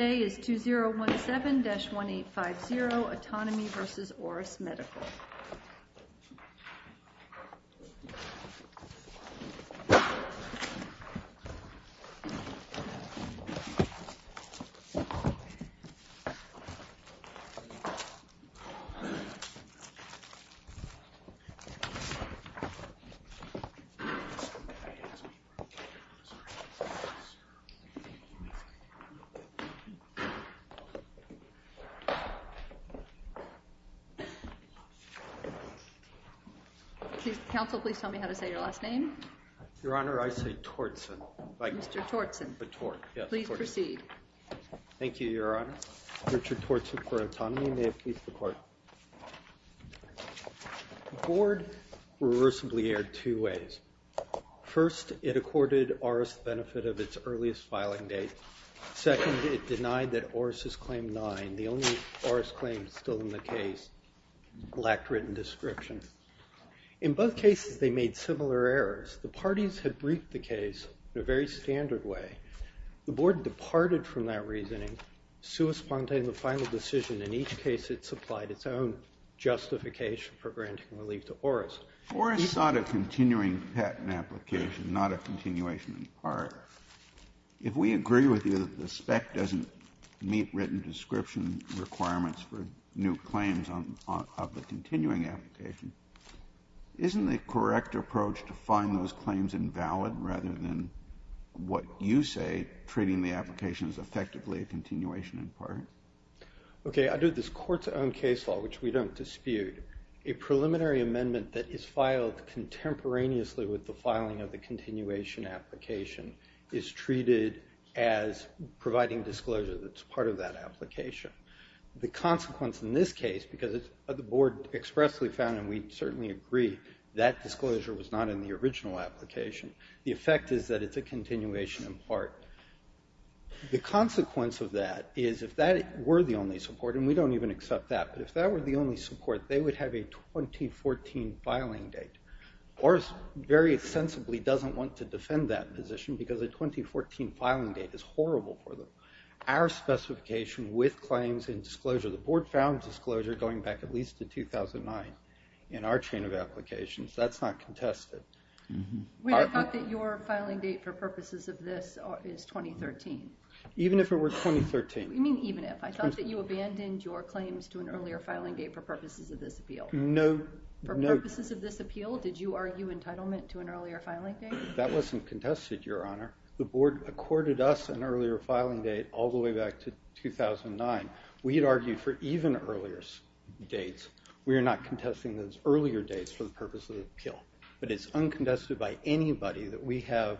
Today is 2017-1850, Autonomy v. Auris Medical The board reversibly aired two ways. First, it accorded Auris the benefit of its earliest filing date. Second, it denied that Auris's claim 9, the only Auris claim still in the case, lacked written description. In both cases, they made similar errors. The parties had briefed the case in a very standard way. The board departed from that reasoning, sui sponte in the final decision. In each case, it supplied its own justification for granting relief to Auris. If Auris sought a continuing patent application, not a continuation in part, if we agree with you that the spec doesn't meet written description requirements for new claims of the continuing application, isn't the correct approach to find those claims invalid rather than what you say treating the application as effectively a continuation in part? Okay. Under this Court's own case law, which we don't dispute, a preliminary amendment that is filed contemporaneously with the filing of the continuation application is treated as providing disclosure that's part of that application. The consequence in this case, because the board expressly found, and we certainly agree, that disclosure was not in the original application, the effect is that it's a continuation in part. The consequence of that is if that were the only support, and we don't even accept that, but if that were the only support, they would have a 2014 filing date. Auris very sensibly doesn't want to defend that position because a 2014 filing date is horrible for them. Our specification with claims and disclosure, the board found disclosure going back at least to 2009 in our chain of applications. That's not contested. We have thought that your filing date for purposes of this is 2013. Even if it were 2013? You mean even if? I thought that you abandoned your claims to an earlier filing date for purposes of this appeal. No. For purposes of this appeal, did you argue entitlement to an earlier filing date? That wasn't contested, Your Honor. The board accorded us an earlier filing date all the way back to 2009. We had argued for even earlier dates. We are not contesting those earlier dates for the purposes of the appeal. But it's uncontested by anybody that we have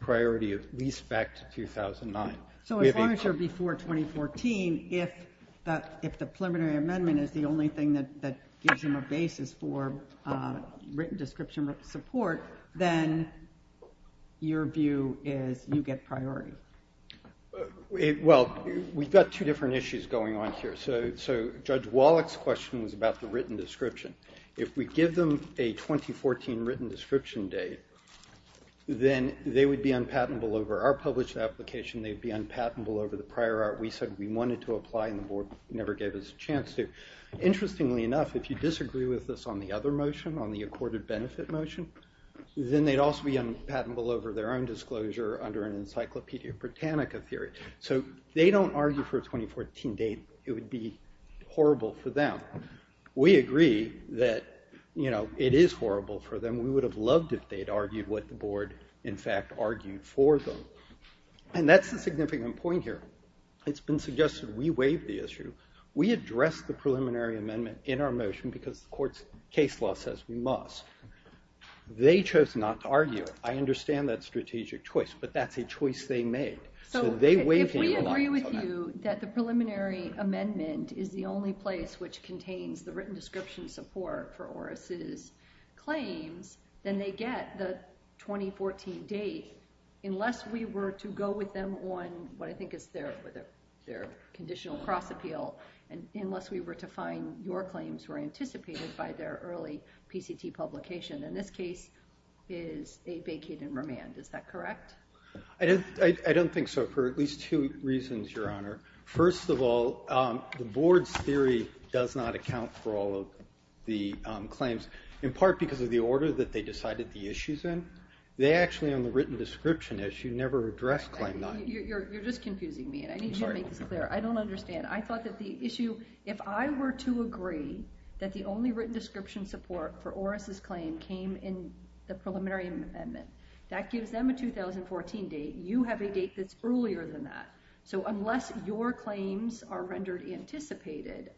priority of at least back to 2009. So as long as you're before 2014, if the preliminary amendment is the only thing that gives them a basis for written description support, then your view is you get priority. We've got two different issues going on here. Judge Wallach's question was about the written description. If we give them a 2014 written description date, then they would be unpatentable over our published application. They'd be unpatentable over the prior art we said we wanted to apply and the board never gave us a chance to. Interestingly enough, if you disagree with us on the other motion, on the accorded benefit motion, then they'd also be unpatentable over their own disclosure under an Encyclopedia Britannica theory. So they don't argue for a 2014 date. It would be horrible for them. We agree that it is horrible for them. We would have loved if they'd argued what the board, in fact, argued for them. And that's the significant point here. It's been suggested we waive the issue. We addressed the preliminary amendment in our motion because the court's case law says we must. They chose not to argue it. I understand that strategic choice, but that's a choice they made. So they waive it. So if we agree with you that the preliminary amendment is the only place which contains the written description support for Oris' claims, then they get the 2014 date unless we were to go with them on what I think is their conditional cross-appeal and unless we were to find your claims were anticipated by their early PCT publication. And this case is a vacated remand. Is that correct? I don't think so, for at least two reasons, Your Honor. First of all, the board's theory does not account for all of the claims, in part because of the order that they decided the issues in. They actually, on the written description issue, never addressed claim nine. You're just confusing me, and I need you to make this clear. I don't understand. I thought that the issue, if I were to agree that the only written description support for Oris' claim came in the preliminary amendment, that gives them a 2014 date. You have a date that's earlier than that. So unless your claims are rendered anticipated,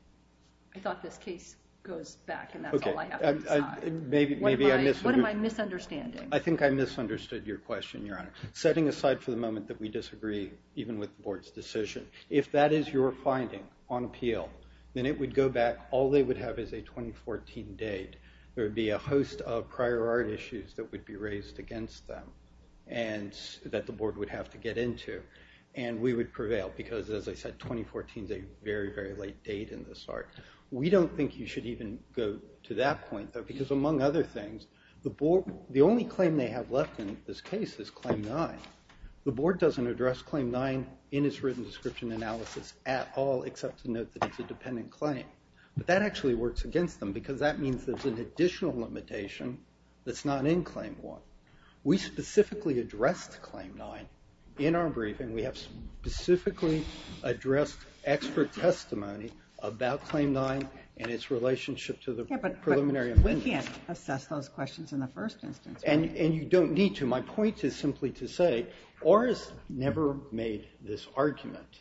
I thought this case goes back and that's all I have to decide. What am I misunderstanding? I think I misunderstood your question, Your Honor. Setting aside for the moment that we disagree even with the board's decision, if that is your finding on appeal, then it would go back. All they would have is a 2014 date. There would be a host of prior art issues that would be raised against them and that the board would have to get into. And we would prevail because, as I said, 2014 is a very, very late date in this art. We don't think you should even go to that point, though, because among other things, the only claim they have left in this case is claim nine. The board doesn't address claim nine in its written description analysis at all except to note that it's a dependent claim. But that actually works against them because that means there's an additional limitation that's not in claim one. We specifically addressed claim nine in our briefing. We have specifically addressed expert testimony about claim nine and its relationship to the preliminary amendments. Yeah, but we can't assess those questions in the first instance, right? And you don't need to. My point is simply to say ORRS never made this argument.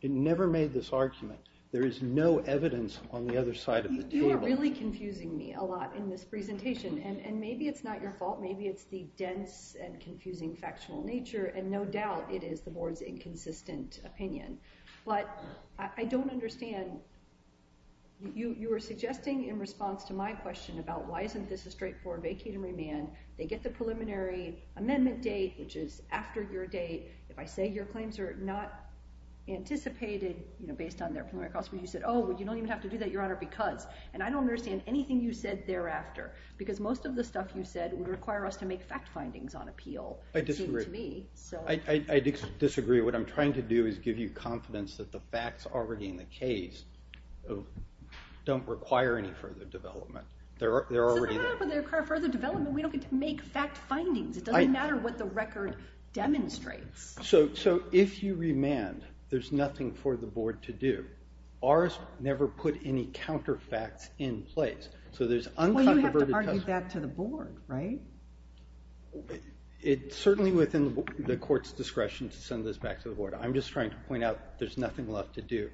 It never made this argument. There is no evidence on the other side of the table. You are really confusing me a lot in this presentation, and maybe it's not your fault. Maybe it's the dense and confusing factional nature, and no doubt it is the board's inconsistent opinion. But I don't understand. You were suggesting in response to my question about why isn't this a straightforward vacate and remand. They get the preliminary amendment date, which is after your date. If I say your claims are not anticipated based on their testimony, you said, oh, well, you don't even have to do that, Your Honor, because. And I don't understand anything you said thereafter because most of the stuff you said would require us to make fact findings on appeal. I disagree. I disagree. What I'm trying to do is give you confidence that the facts already in the case don't require any further development. They're already there. But they require further development. We don't get to make fact findings. It doesn't matter what the record demonstrates. So if you remand, there's nothing for the board to do. Ours never put any counterfacts in place. So there's uncontroverted testimony. Well, you have to argue that to the board, right? It's certainly within the court's discretion to send this back to the board. I'm just trying to point out there's nothing left to do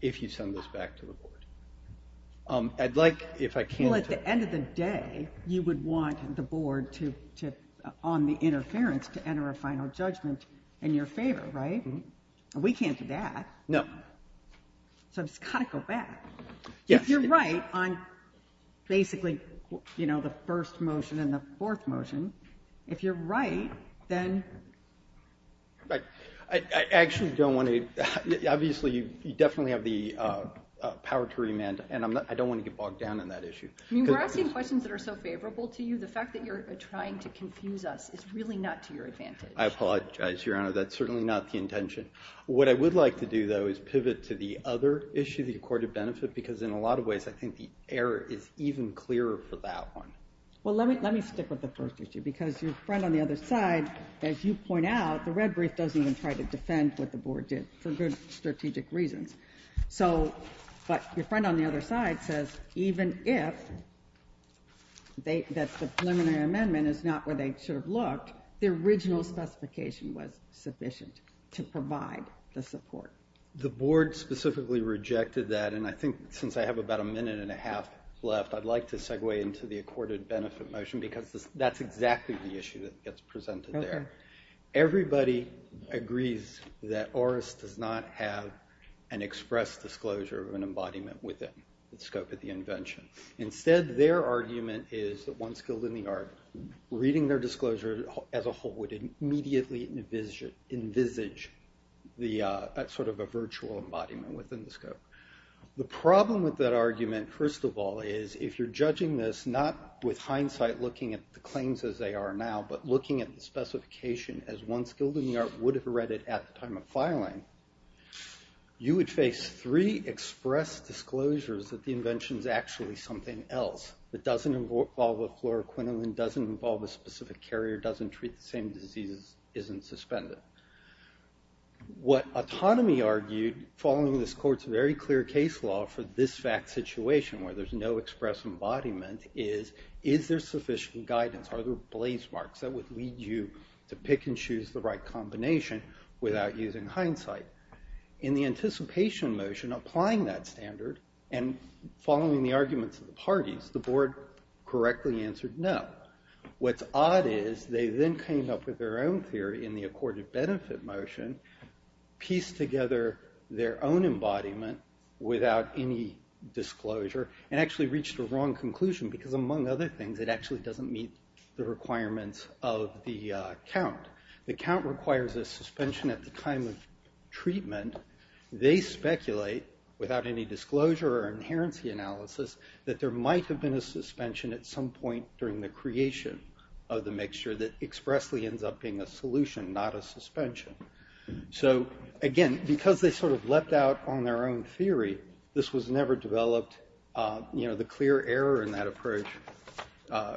if you send this back to the board. I'd like, if I can. Well, at the end of the day, you would want the board to, on the interference, to enter a final judgment in your favor, right? We can't do that. No. So I've just got to go back. If you're right on basically, you know, the first motion and the fourth motion, if you're right, then. I actually don't want to. Obviously, you definitely have the power to remand, and I don't want to get bogged down in that issue. I mean, we're asking questions that are so favorable to you. The fact that you're trying to confuse us is really not to your advantage. I apologize, Your Honor. That's certainly not the intention. What I would like to do, though, is pivot to the other issue, the accorded benefit, because in a lot of ways, I think the error is even clearer for that one. Well, let me stick with the first issue, because your friend on the other side, as you point out, the red brief doesn't even try to defend what the board did for good strategic reasons. So, but your friend on the other side says, even if that's the preliminary amendment is not where they should have looked, the original specification was sufficient to provide the support. The board specifically rejected that, and I think since I have about a minute and a half left, I'd like to segue into the accorded benefit motion, because that's exactly the issue that gets presented there. Everybody agrees that ORIS does not have an express disclosure of an embodiment within the scope of the invention. Instead, their argument is that once killed in the yard, reading their argument would immediately envisage sort of a virtual embodiment within the scope. The problem with that argument, first of all, is if you're judging this not with hindsight looking at the claims as they are now, but looking at the specification as once killed in the yard would have read it at the time of filing, you would face three express disclosures that the invention is actually something else. It doesn't involve a fluoroquinolone, doesn't involve a specific carrier, doesn't treat the same diseases, isn't suspended. What autonomy argued following this court's very clear case law for this fact situation where there's no express embodiment is, is there sufficient guidance? Are there blaze marks that would lead you to pick and choose the right combination without using hindsight? In the anticipation motion applying that standard and following the arguments of the parties, the board correctly answered no. What's odd is they then came up with their own theory in the accorded benefit motion, pieced together their own embodiment without any disclosure, and actually reached a wrong conclusion because among other things, it actually doesn't meet the requirements of the count. The count requires a suspension at the time of treatment. They speculate without any disclosure or inherency analysis that there might have been a suspension at some point during the creation of the mixture that expressly ends up being a solution, not a suspension. So again, because they sort of leapt out on their own theory, this was never developed. You know, the clear error in that approach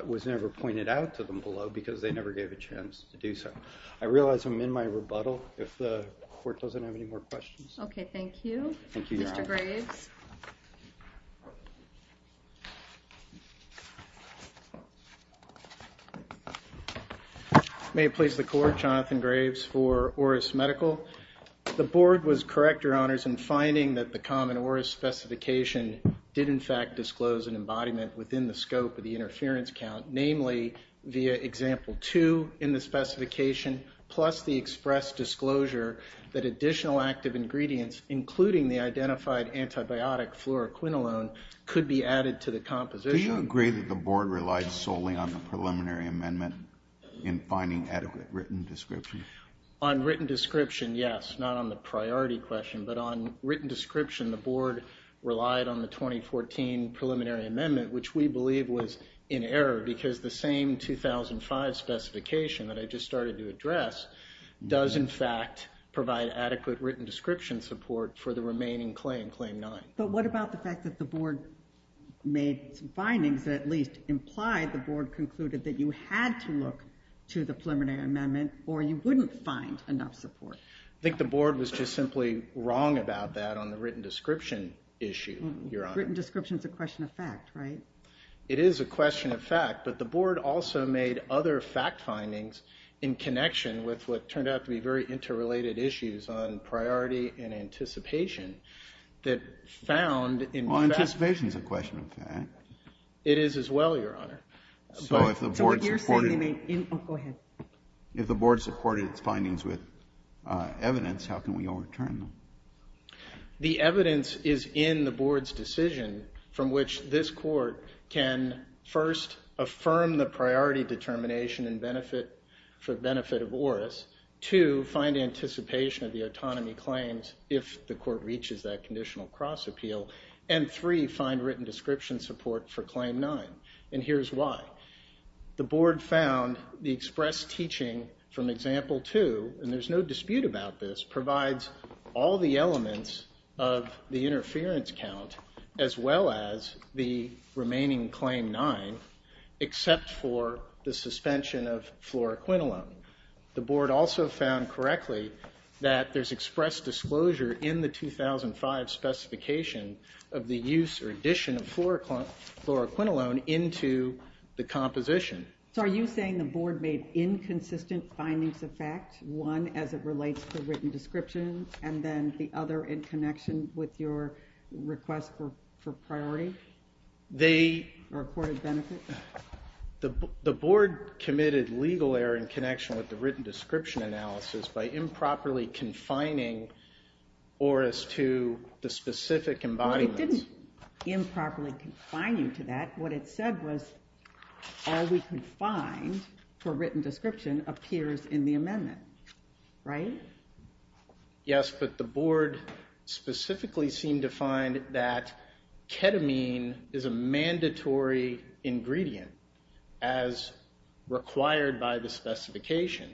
was never pointed out to them below because they never gave a chance to do so. I realize I'm in my rebuttal. If the court doesn't have any more questions. Okay, thank you. Thank you, Your Honor. Mr. Graves. May it please the court, Jonathan Graves for Oris Medical. The board was correct, Your Honors, in finding that the common Oris specification did in fact disclose an embodiment within the scope of the interference count, namely via example two in the specification plus the expressed disclosure that additional active ingredients, including the identified antibiotic fluoroquinolone, could be added to the composition. Do you agree that the board relied solely on the preliminary amendment in finding adequate written description? On written description, yes, not on the priority question. But on written description, the board relied on the 2014 preliminary amendment, which we believe was in error because the same 2005 specification that I just started to address does in fact provide adequate written description support for the remaining claim, claim nine. But what about the fact that the board made some findings that at least implied the board concluded that you had to look to the preliminary amendment or you wouldn't find enough support? I think the board was just simply wrong about that on the written description issue, Your Honor. Written description is a question of fact, right? It is a question of fact, but the board also made other fact findings in connection with what turned out to be very interrelated issues on priority and anticipation that found in fact... Well, anticipation is a question of fact. It is as well, Your Honor. So if the board supported... So what you're saying, you mean... Go ahead. If the board supported its findings with evidence, how can we overturn them? The evidence is in the board's decision from which this court can first affirm the priority determination and benefit of Oris, two, find anticipation of the autonomy claims if the court reaches that conditional cross appeal, and three, find written description support for claim nine. And here's why. The board found the express teaching from example two, and there's as well as the remaining claim nine, except for the suspension of fluoroquinolone. The board also found correctly that there's expressed disclosure in the 2005 specification of the use or addition of fluoroquinolone into the composition. So are you saying the board made inconsistent findings of fact, one, as it relates to written description, and then the other in connection with your request for priority? They... Or afforded benefit? The board committed legal error in connection with the written description analysis by improperly confining Oris to the specific embodiments. It didn't improperly confine you to that. What it said was all we could find for written description appears in the amendment, right? Yes, but the board specifically seemed to find that ketamine is a mandatory ingredient as required by the specification.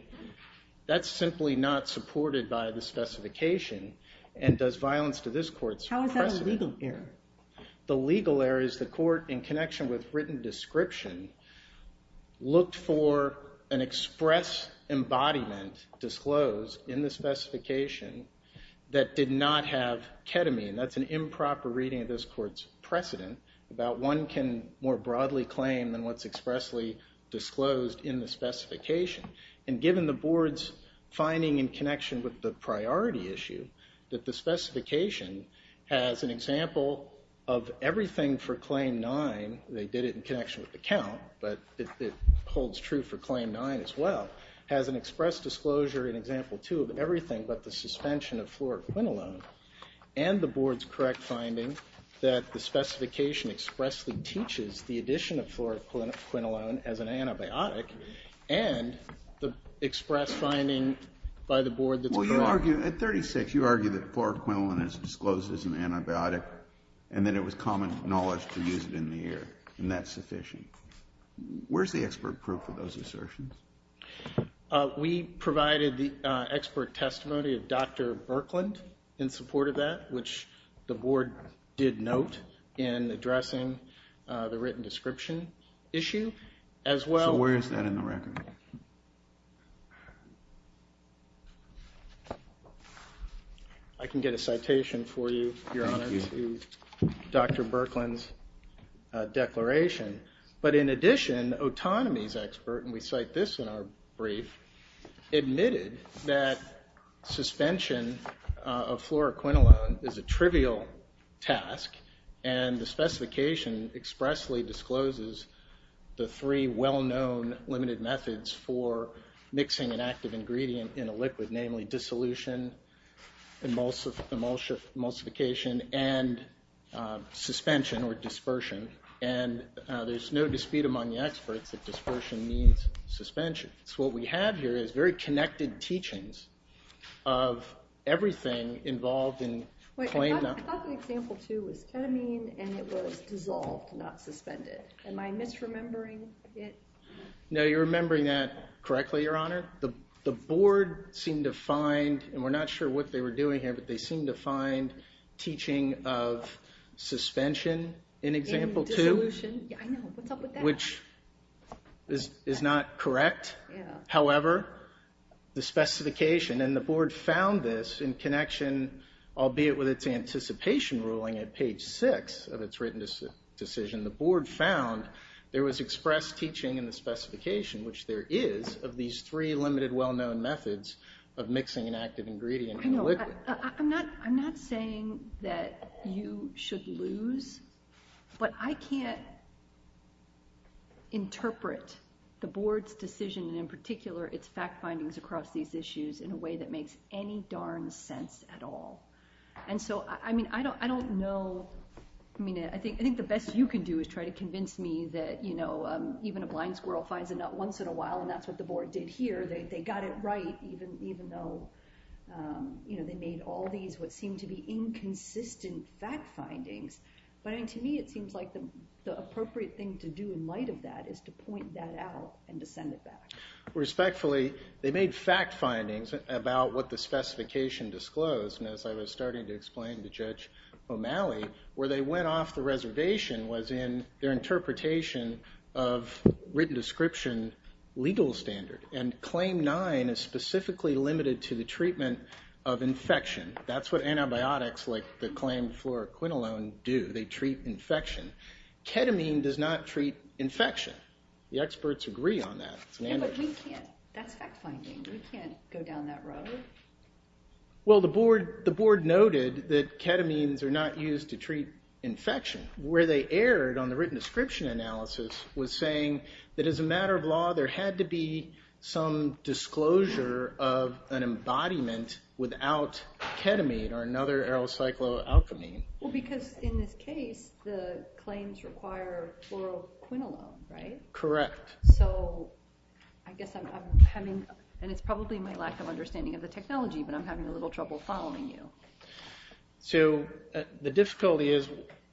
That's simply not supported by the specification, and does violence to this court's precedent. How is that a legal error? The legal error is the court, in connection with written description, looked for an express embodiment disclosed in the specification that did not have ketamine. That's an improper reading of this court's precedent about one can more broadly claim than what's expressly disclosed in the specification. And given the board's finding in connection with the priority issue, that the specification has an example of everything for claim nine. They did it in connection with the count, but it holds true for claim nine as well, has an express disclosure in example two of everything but the suspension of fluoroquinolone, and the board's correct finding that the specification expressly teaches the addition of fluoroquinolone as an antibiotic, and the express finding by the board that's correct. Well, you argue, at 36, you argue that fluoroquinolone is disclosed as an antibiotic, and that it was common knowledge to use it in the air, and that's sufficient. Where's the expert proof of those assertions? We provided the expert testimony of Dr. Berkland in support of that, which the board did note in addressing the written description issue. So where is that in the record? I can get a citation for you. Thank you. Your Honor, to Dr. Berkland's declaration. But in addition, autonomy's expert, and we cite this in our brief, admitted that suspension of fluoroquinolone is a trivial task, and the specification expressly discloses the three well-known limited methods for mixing an active ingredient in a liquid, namely dissolution, emulsion, emulsification, and suspension, or dispersion. And there's no dispute among the experts that dispersion means suspension. So what we have here is very connected teachings of everything involved in plain... Wait, I thought the example, too, was ketamine, and it was dissolved, not suspended. Am I misremembering it? No, you're remembering that correctly, Your Honor. The board seemed to find, and we're not sure what they were doing here, but they seemed to find teaching of suspension in example two, which is not correct. However, the specification, and the board found this in connection, albeit with its anticipation ruling at page six of its written decision, the board found there was expressed teaching in the specification, which there is, of these three limited well-known methods of mixing an active ingredient in a liquid. I'm not saying that you should lose, but I can't interpret the board's decision, and in particular its fact findings across these issues, in a way that makes any darn sense at all. And so, I mean, I don't know, I mean, I think the best you can do is try to convince me that, you know, even a blind squirrel finds a nut once in a while, and that's what the board did here. They got it right, even though, you know, they made all these what seemed to be inconsistent fact findings. But I mean, to me, it seems like the appropriate thing to do in light of that is to point that out and to send it back. Respectfully, they made fact findings about what the specification disclosed, and as I was starting to explain to Judge O'Malley, where they went off the reservation was in their interpretation of written description legal standard. And Claim 9 is specifically limited to the treatment of infection. That's what antibiotics like the claim fluoroquinolone do. They treat infection. Ketamine does not treat infection. The experts agree on that. But we can't, that's fact finding. We can't go down that road. Well, the board noted that ketamines are not used to treat infection. Where they erred on the written description analysis was saying that as a matter of law, there had to be some disclosure of an embodiment without ketamine or another arylcycloalkamine. Well, because in this case, the claims require fluoroquinolone, right? Correct. So, I guess I'm having, and it's probably my lack of understanding of the technology, but I'm having a little trouble following you. So, the difficulty is,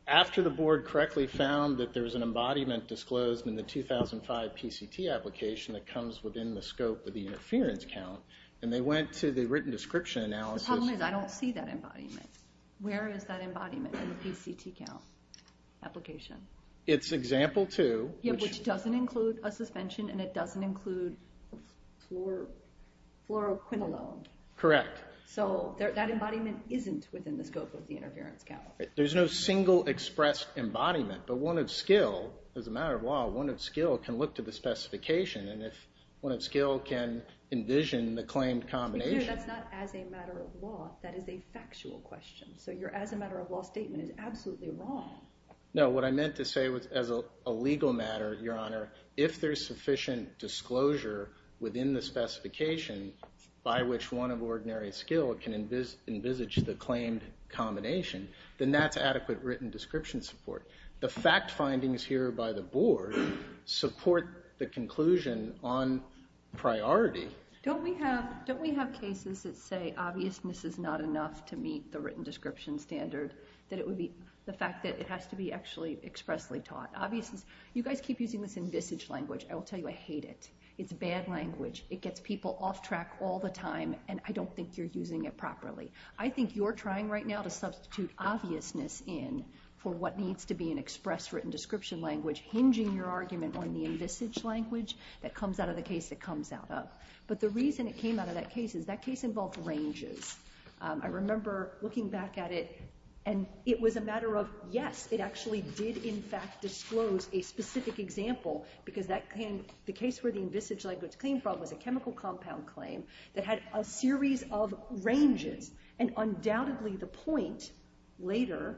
after the board correctly found that there was an embodiment disclosed in the 2005 PCT application that comes within the scope of the interference count, and they went to the written description analysis... The problem is, I don't see that embodiment. Where is that embodiment in the PCT count application? It's example 2, which... Which doesn't include a suspension, and it doesn't include fluoroquinolone. Correct. So, that embodiment isn't within the scope of the interference count. There's no single expressed embodiment, but one of skill, as a matter of law, one of skill can look to the specification, and if one of skill can envision the claimed combination... To be clear, that's not as a matter of law. That is a factual question. So, your as a matter of law statement is absolutely wrong. No, what I meant to say was, as a legal matter, Your Honor, if there's sufficient disclosure within the specification by which one of ordinary skill can envisage the claimed combination, then that's adequate written description support. The fact findings here by the board support the conclusion on priority. Don't we have cases that say obviousness is not enough to meet the written description standard, that it would be... The fact that it has to be actually expressly taught. Obviousness... You guys keep using this envisage language. I will tell you I hate it. It's bad language. It gets people off track all the time, and I don't think you're using it properly. I think you're trying right now to substitute obviousness in for what needs to be an express written description language, hinging your argument on the envisage language that comes out of the case it comes out of. But the reason it came out of that case is that case involved ranges. I remember looking back at it, and it was a matter of, yes, it actually did in fact disclose a specific example, because the case where the envisage language came from was a chemical compound claim that had a series of ranges, and undoubtedly the point later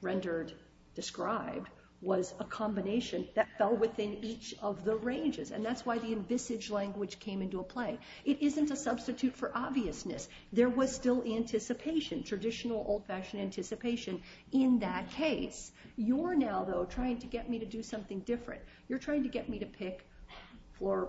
rendered, described, was a combination that fell within each of the ranges, and that's why the envisage language came into play. It isn't a substitute for obviousness. There was still anticipation, traditional, old-fashioned anticipation in that case. You're now, though, trying to get me to do something different. You're trying to get me to pick for a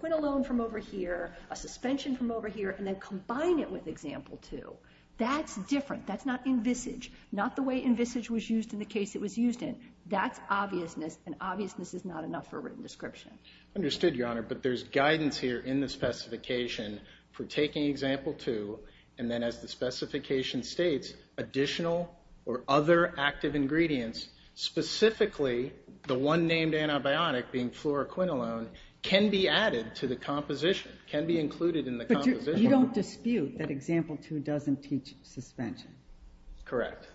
Quint alone from over here, a suspension from over here, and then combine it with example two. That's different. That's not envisage. Not the way envisage was used in the case it was used in. That's obviousness, and obviousness is not enough for a written description. Understood, Your Honor, but there's guidance here in the specification for taking example two, and then as the specification states, additional or other active ingredients, specifically the one named antibiotic, being fluoroquinolone, can be added to the composition, can be included in the composition. But you don't dispute that example two doesn't teach suspension? Correct.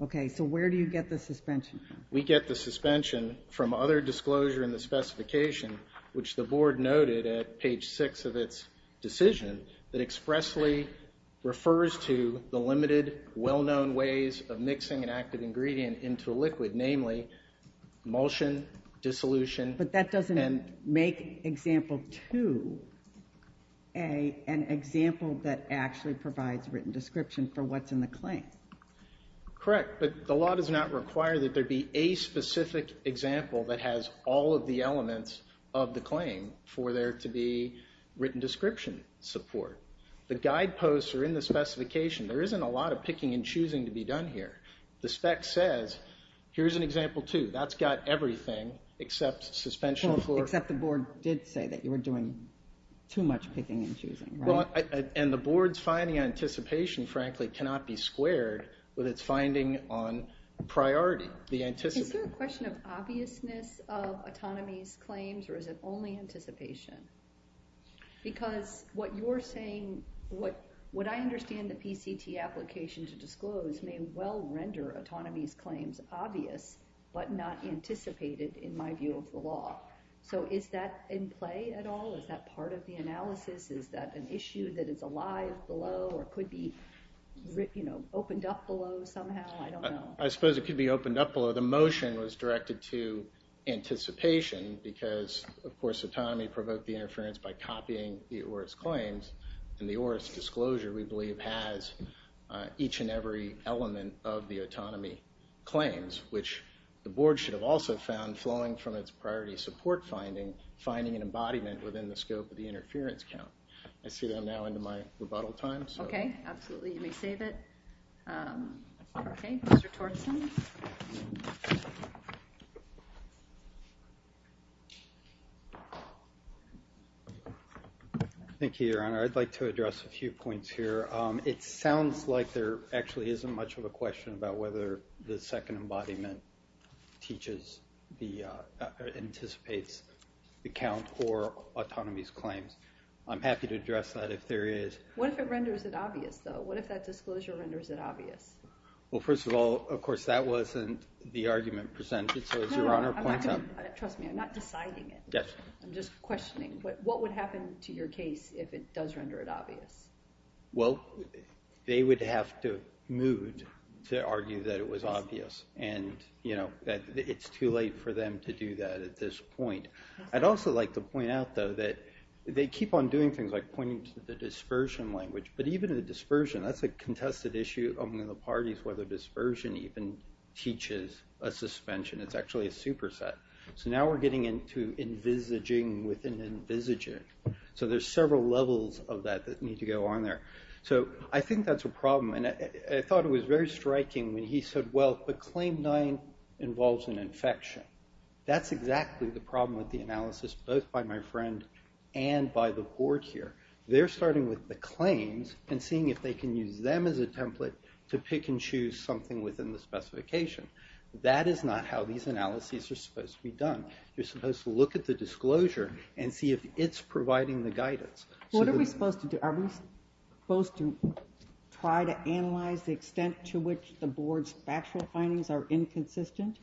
Okay, so where do you get the suspension from? We get the suspension from other disclosure in the specification, which the board noted at page six of its decision, that expressly refers to the limited, well-known ways of mixing an active ingredient into a liquid, namely emulsion, dissolution. But that doesn't make example two an example that actually provides written description for what's in the claim. Correct, but the law does not require that there be a specific example that has all of the elements of the claim for there to be written description support. The guideposts are in the specification. There isn't a lot of picking and choosing to be done here. The spec says, here's an example two. That's got everything except suspension for... Except the board did say that you were doing too much picking and choosing, right? And the board's finding anticipation, frankly, cannot be squared with its finding on priority. Is there a question of obviousness of autonomy's claims, or is it only anticipation? Because what you're saying, what I understand the PCT application to disclose may well render autonomy's claims obvious, but not anticipated in my view of the law. So is that in play at all? Is that part of the analysis? Is that an issue that is alive below, or could be opened up below somehow? I suppose it could be opened up below. The motion was directed to anticipation because, of course, autonomy provoked the interference by copying the Oris claims. And the Oris disclosure, we believe, has each and every element of the autonomy claims, which the board should have also found flowing from its priority support finding, finding an embodiment within the scope of the interference count. I see that I'm now into my rebuttal time. Okay, absolutely. You may save it. Okay, Mr. Torson. Thank you, Your Honor. I'd like to address a few points here. It sounds like there actually isn't much of a question about whether the second embodiment teaches the, anticipates the count or autonomy's claims. I'm happy to address that if there is. What if it renders it obvious, though? What if that disclosure renders it obvious? Well, first of all, of course, that wasn't the argument presented. So as Your Honor points out... Trust me, I'm not deciding it. I'm just questioning. What would happen to your case if it does render it obvious? Well, they would have to move to argue that it was obvious. And, you know, it's too late for them to do that at this point. I'd also like to point out, though, that they keep on doing things, like pointing to the dispersion language. But even the dispersion, that's a contested issue among the parties, whether dispersion even teaches a suspension. It's actually a superset. So now we're getting into envisaging within envisaging. So there's several levels of that that need to go on there. So I think that's a problem. And I thought it was very striking when he said, well, but Claim 9 involves an infection. That's exactly the problem with the analysis, both by my friend and by the board here. They're starting with the claims and seeing if they can use them as a template to pick and choose something within the specification. That is not how these analyses are supposed to be done. You're supposed to look at the disclosure and see if it's providing the guidance. What are we supposed to do? Are we supposed to try to analyze the extent to which the board's factual findings are inconsistent?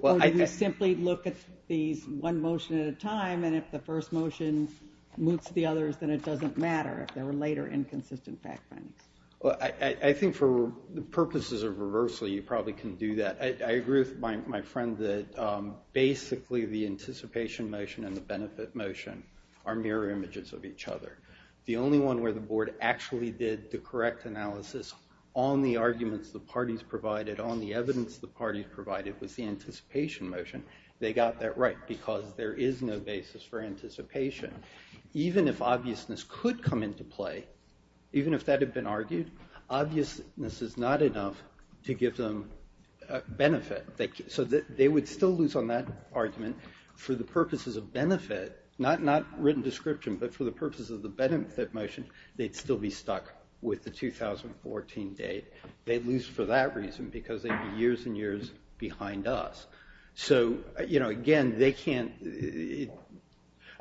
Or do we simply look at these one motion at a time, and if the first motion moots the others, then it doesn't matter if there were later inconsistent fact findings? I think for the purposes of reversal, you probably can do that. I agree with my friend that basically the anticipation motion and the benefit motion are mirror images of each other. The only one where the board actually did the correct analysis on the arguments the parties provided, on the evidence the parties provided, was the anticipation motion. They got that right because there is no basis for anticipation. Even if obviousness could come into play, even if that had been argued, obviousness is not enough to give them benefit. So they would still lose on that argument for the purposes of benefit, not written description, but for the purposes of the benefit motion, they'd still be stuck with the 2014 date. They'd lose for that reason because they'd be years and years behind us. So again, they can't...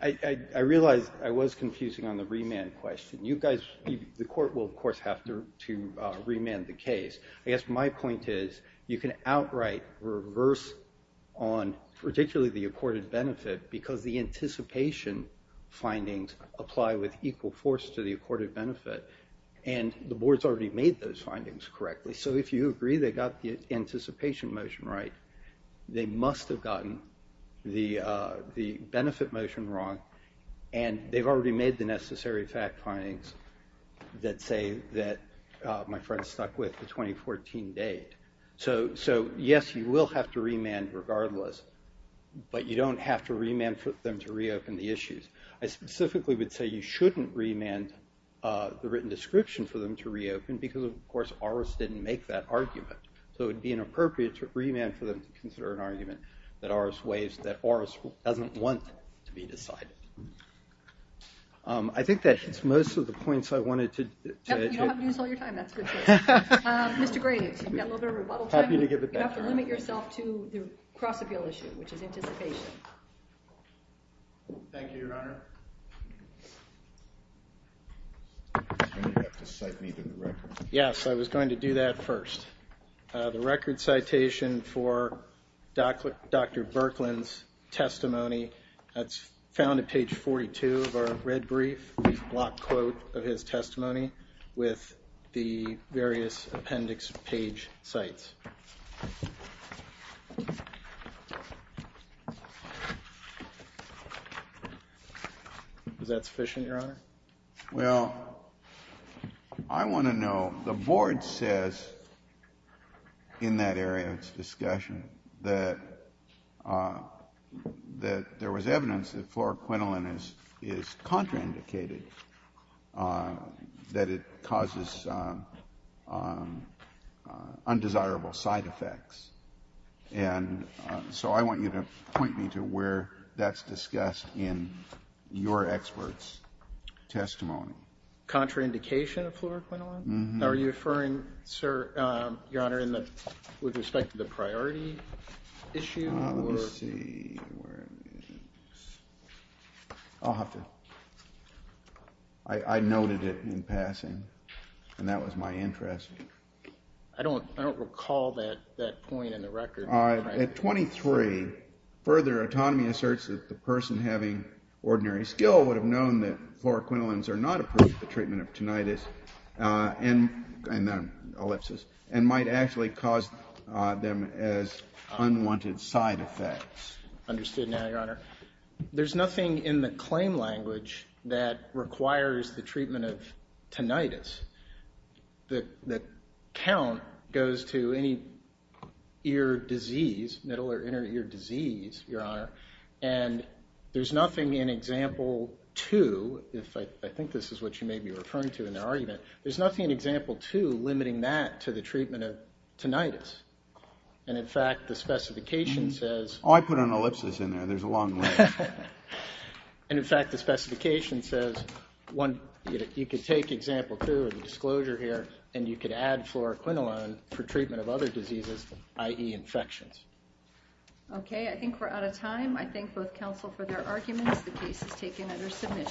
I realize I was confusing on the remand question. You guys, the court will of course have to remand the case. I guess my point is, you can outright reverse on, particularly the accorded benefit, because the anticipation findings apply with equal force to the accorded benefit. And the board's already made those findings correctly. So if you agree they got the anticipation motion right, they must have gotten the benefit motion wrong, and they've already made the necessary fact findings that say that my friend's stuck with the 2014 date. So yes, you will have to remand regardless, but you don't have to remand for them to reopen the issues. I specifically would say you shouldn't remand the written description for them to reopen, because of course ORIS didn't make that argument. So it would be inappropriate to remand for them to consider an argument that ORIS doesn't want to be decided. I think that hits most of the points I wanted to... You don't have to do this all your time, that's good to know. Mr. Graves, you've got a little bit of rebuttal time. You're going to have to limit yourself to the cross-appeal issue, which is anticipation. Thank you, Your Honor. You're going to have to cite me to the record. Yes, I was going to do that first. The record citation for Dr. Berklin's testimony that's found at page 42 of our red brief, the block quote of his testimony, with the various appendix page sites. Is that sufficient, Your Honor? Well, I want to know... The board says in that area of its discussion that there was evidence that fluoroquinolone is contraindicated, that it causes undesirable side effects. So I want you to point me to where that's discussed in your expert's testimony. Contraindication of fluoroquinolone? Are you referring, Your Honor, with respect to the priority issue? Let me see. I'll have to... I noted it in passing, and that was my interest. I don't recall that point in the record. At 23, further autonomy asserts that the person having ordinary skill would have known that fluoroquinolones are not approved for treatment of tinnitus, and not ellipsis, and might actually cause them as unwanted side effects. Understood now, Your Honor. There's nothing in the claim language that requires the treatment of tinnitus that count goes to any ear disease, middle or inner ear disease, Your Honor. And there's nothing in Example 2, if I think this is what you may be referring to in the argument, there's nothing in Example 2 limiting that to the treatment of tinnitus. And in fact, the specification says... Oh, I put an ellipsis in there. There's a long list. And in fact, the specification says, you could take Example 2, the disclosure here, and you could add fluoroquinolone for treatment of other diseases, i.e. infections. Okay, I think we're out of time. I thank both counsel for their arguments. The case is taken under submission.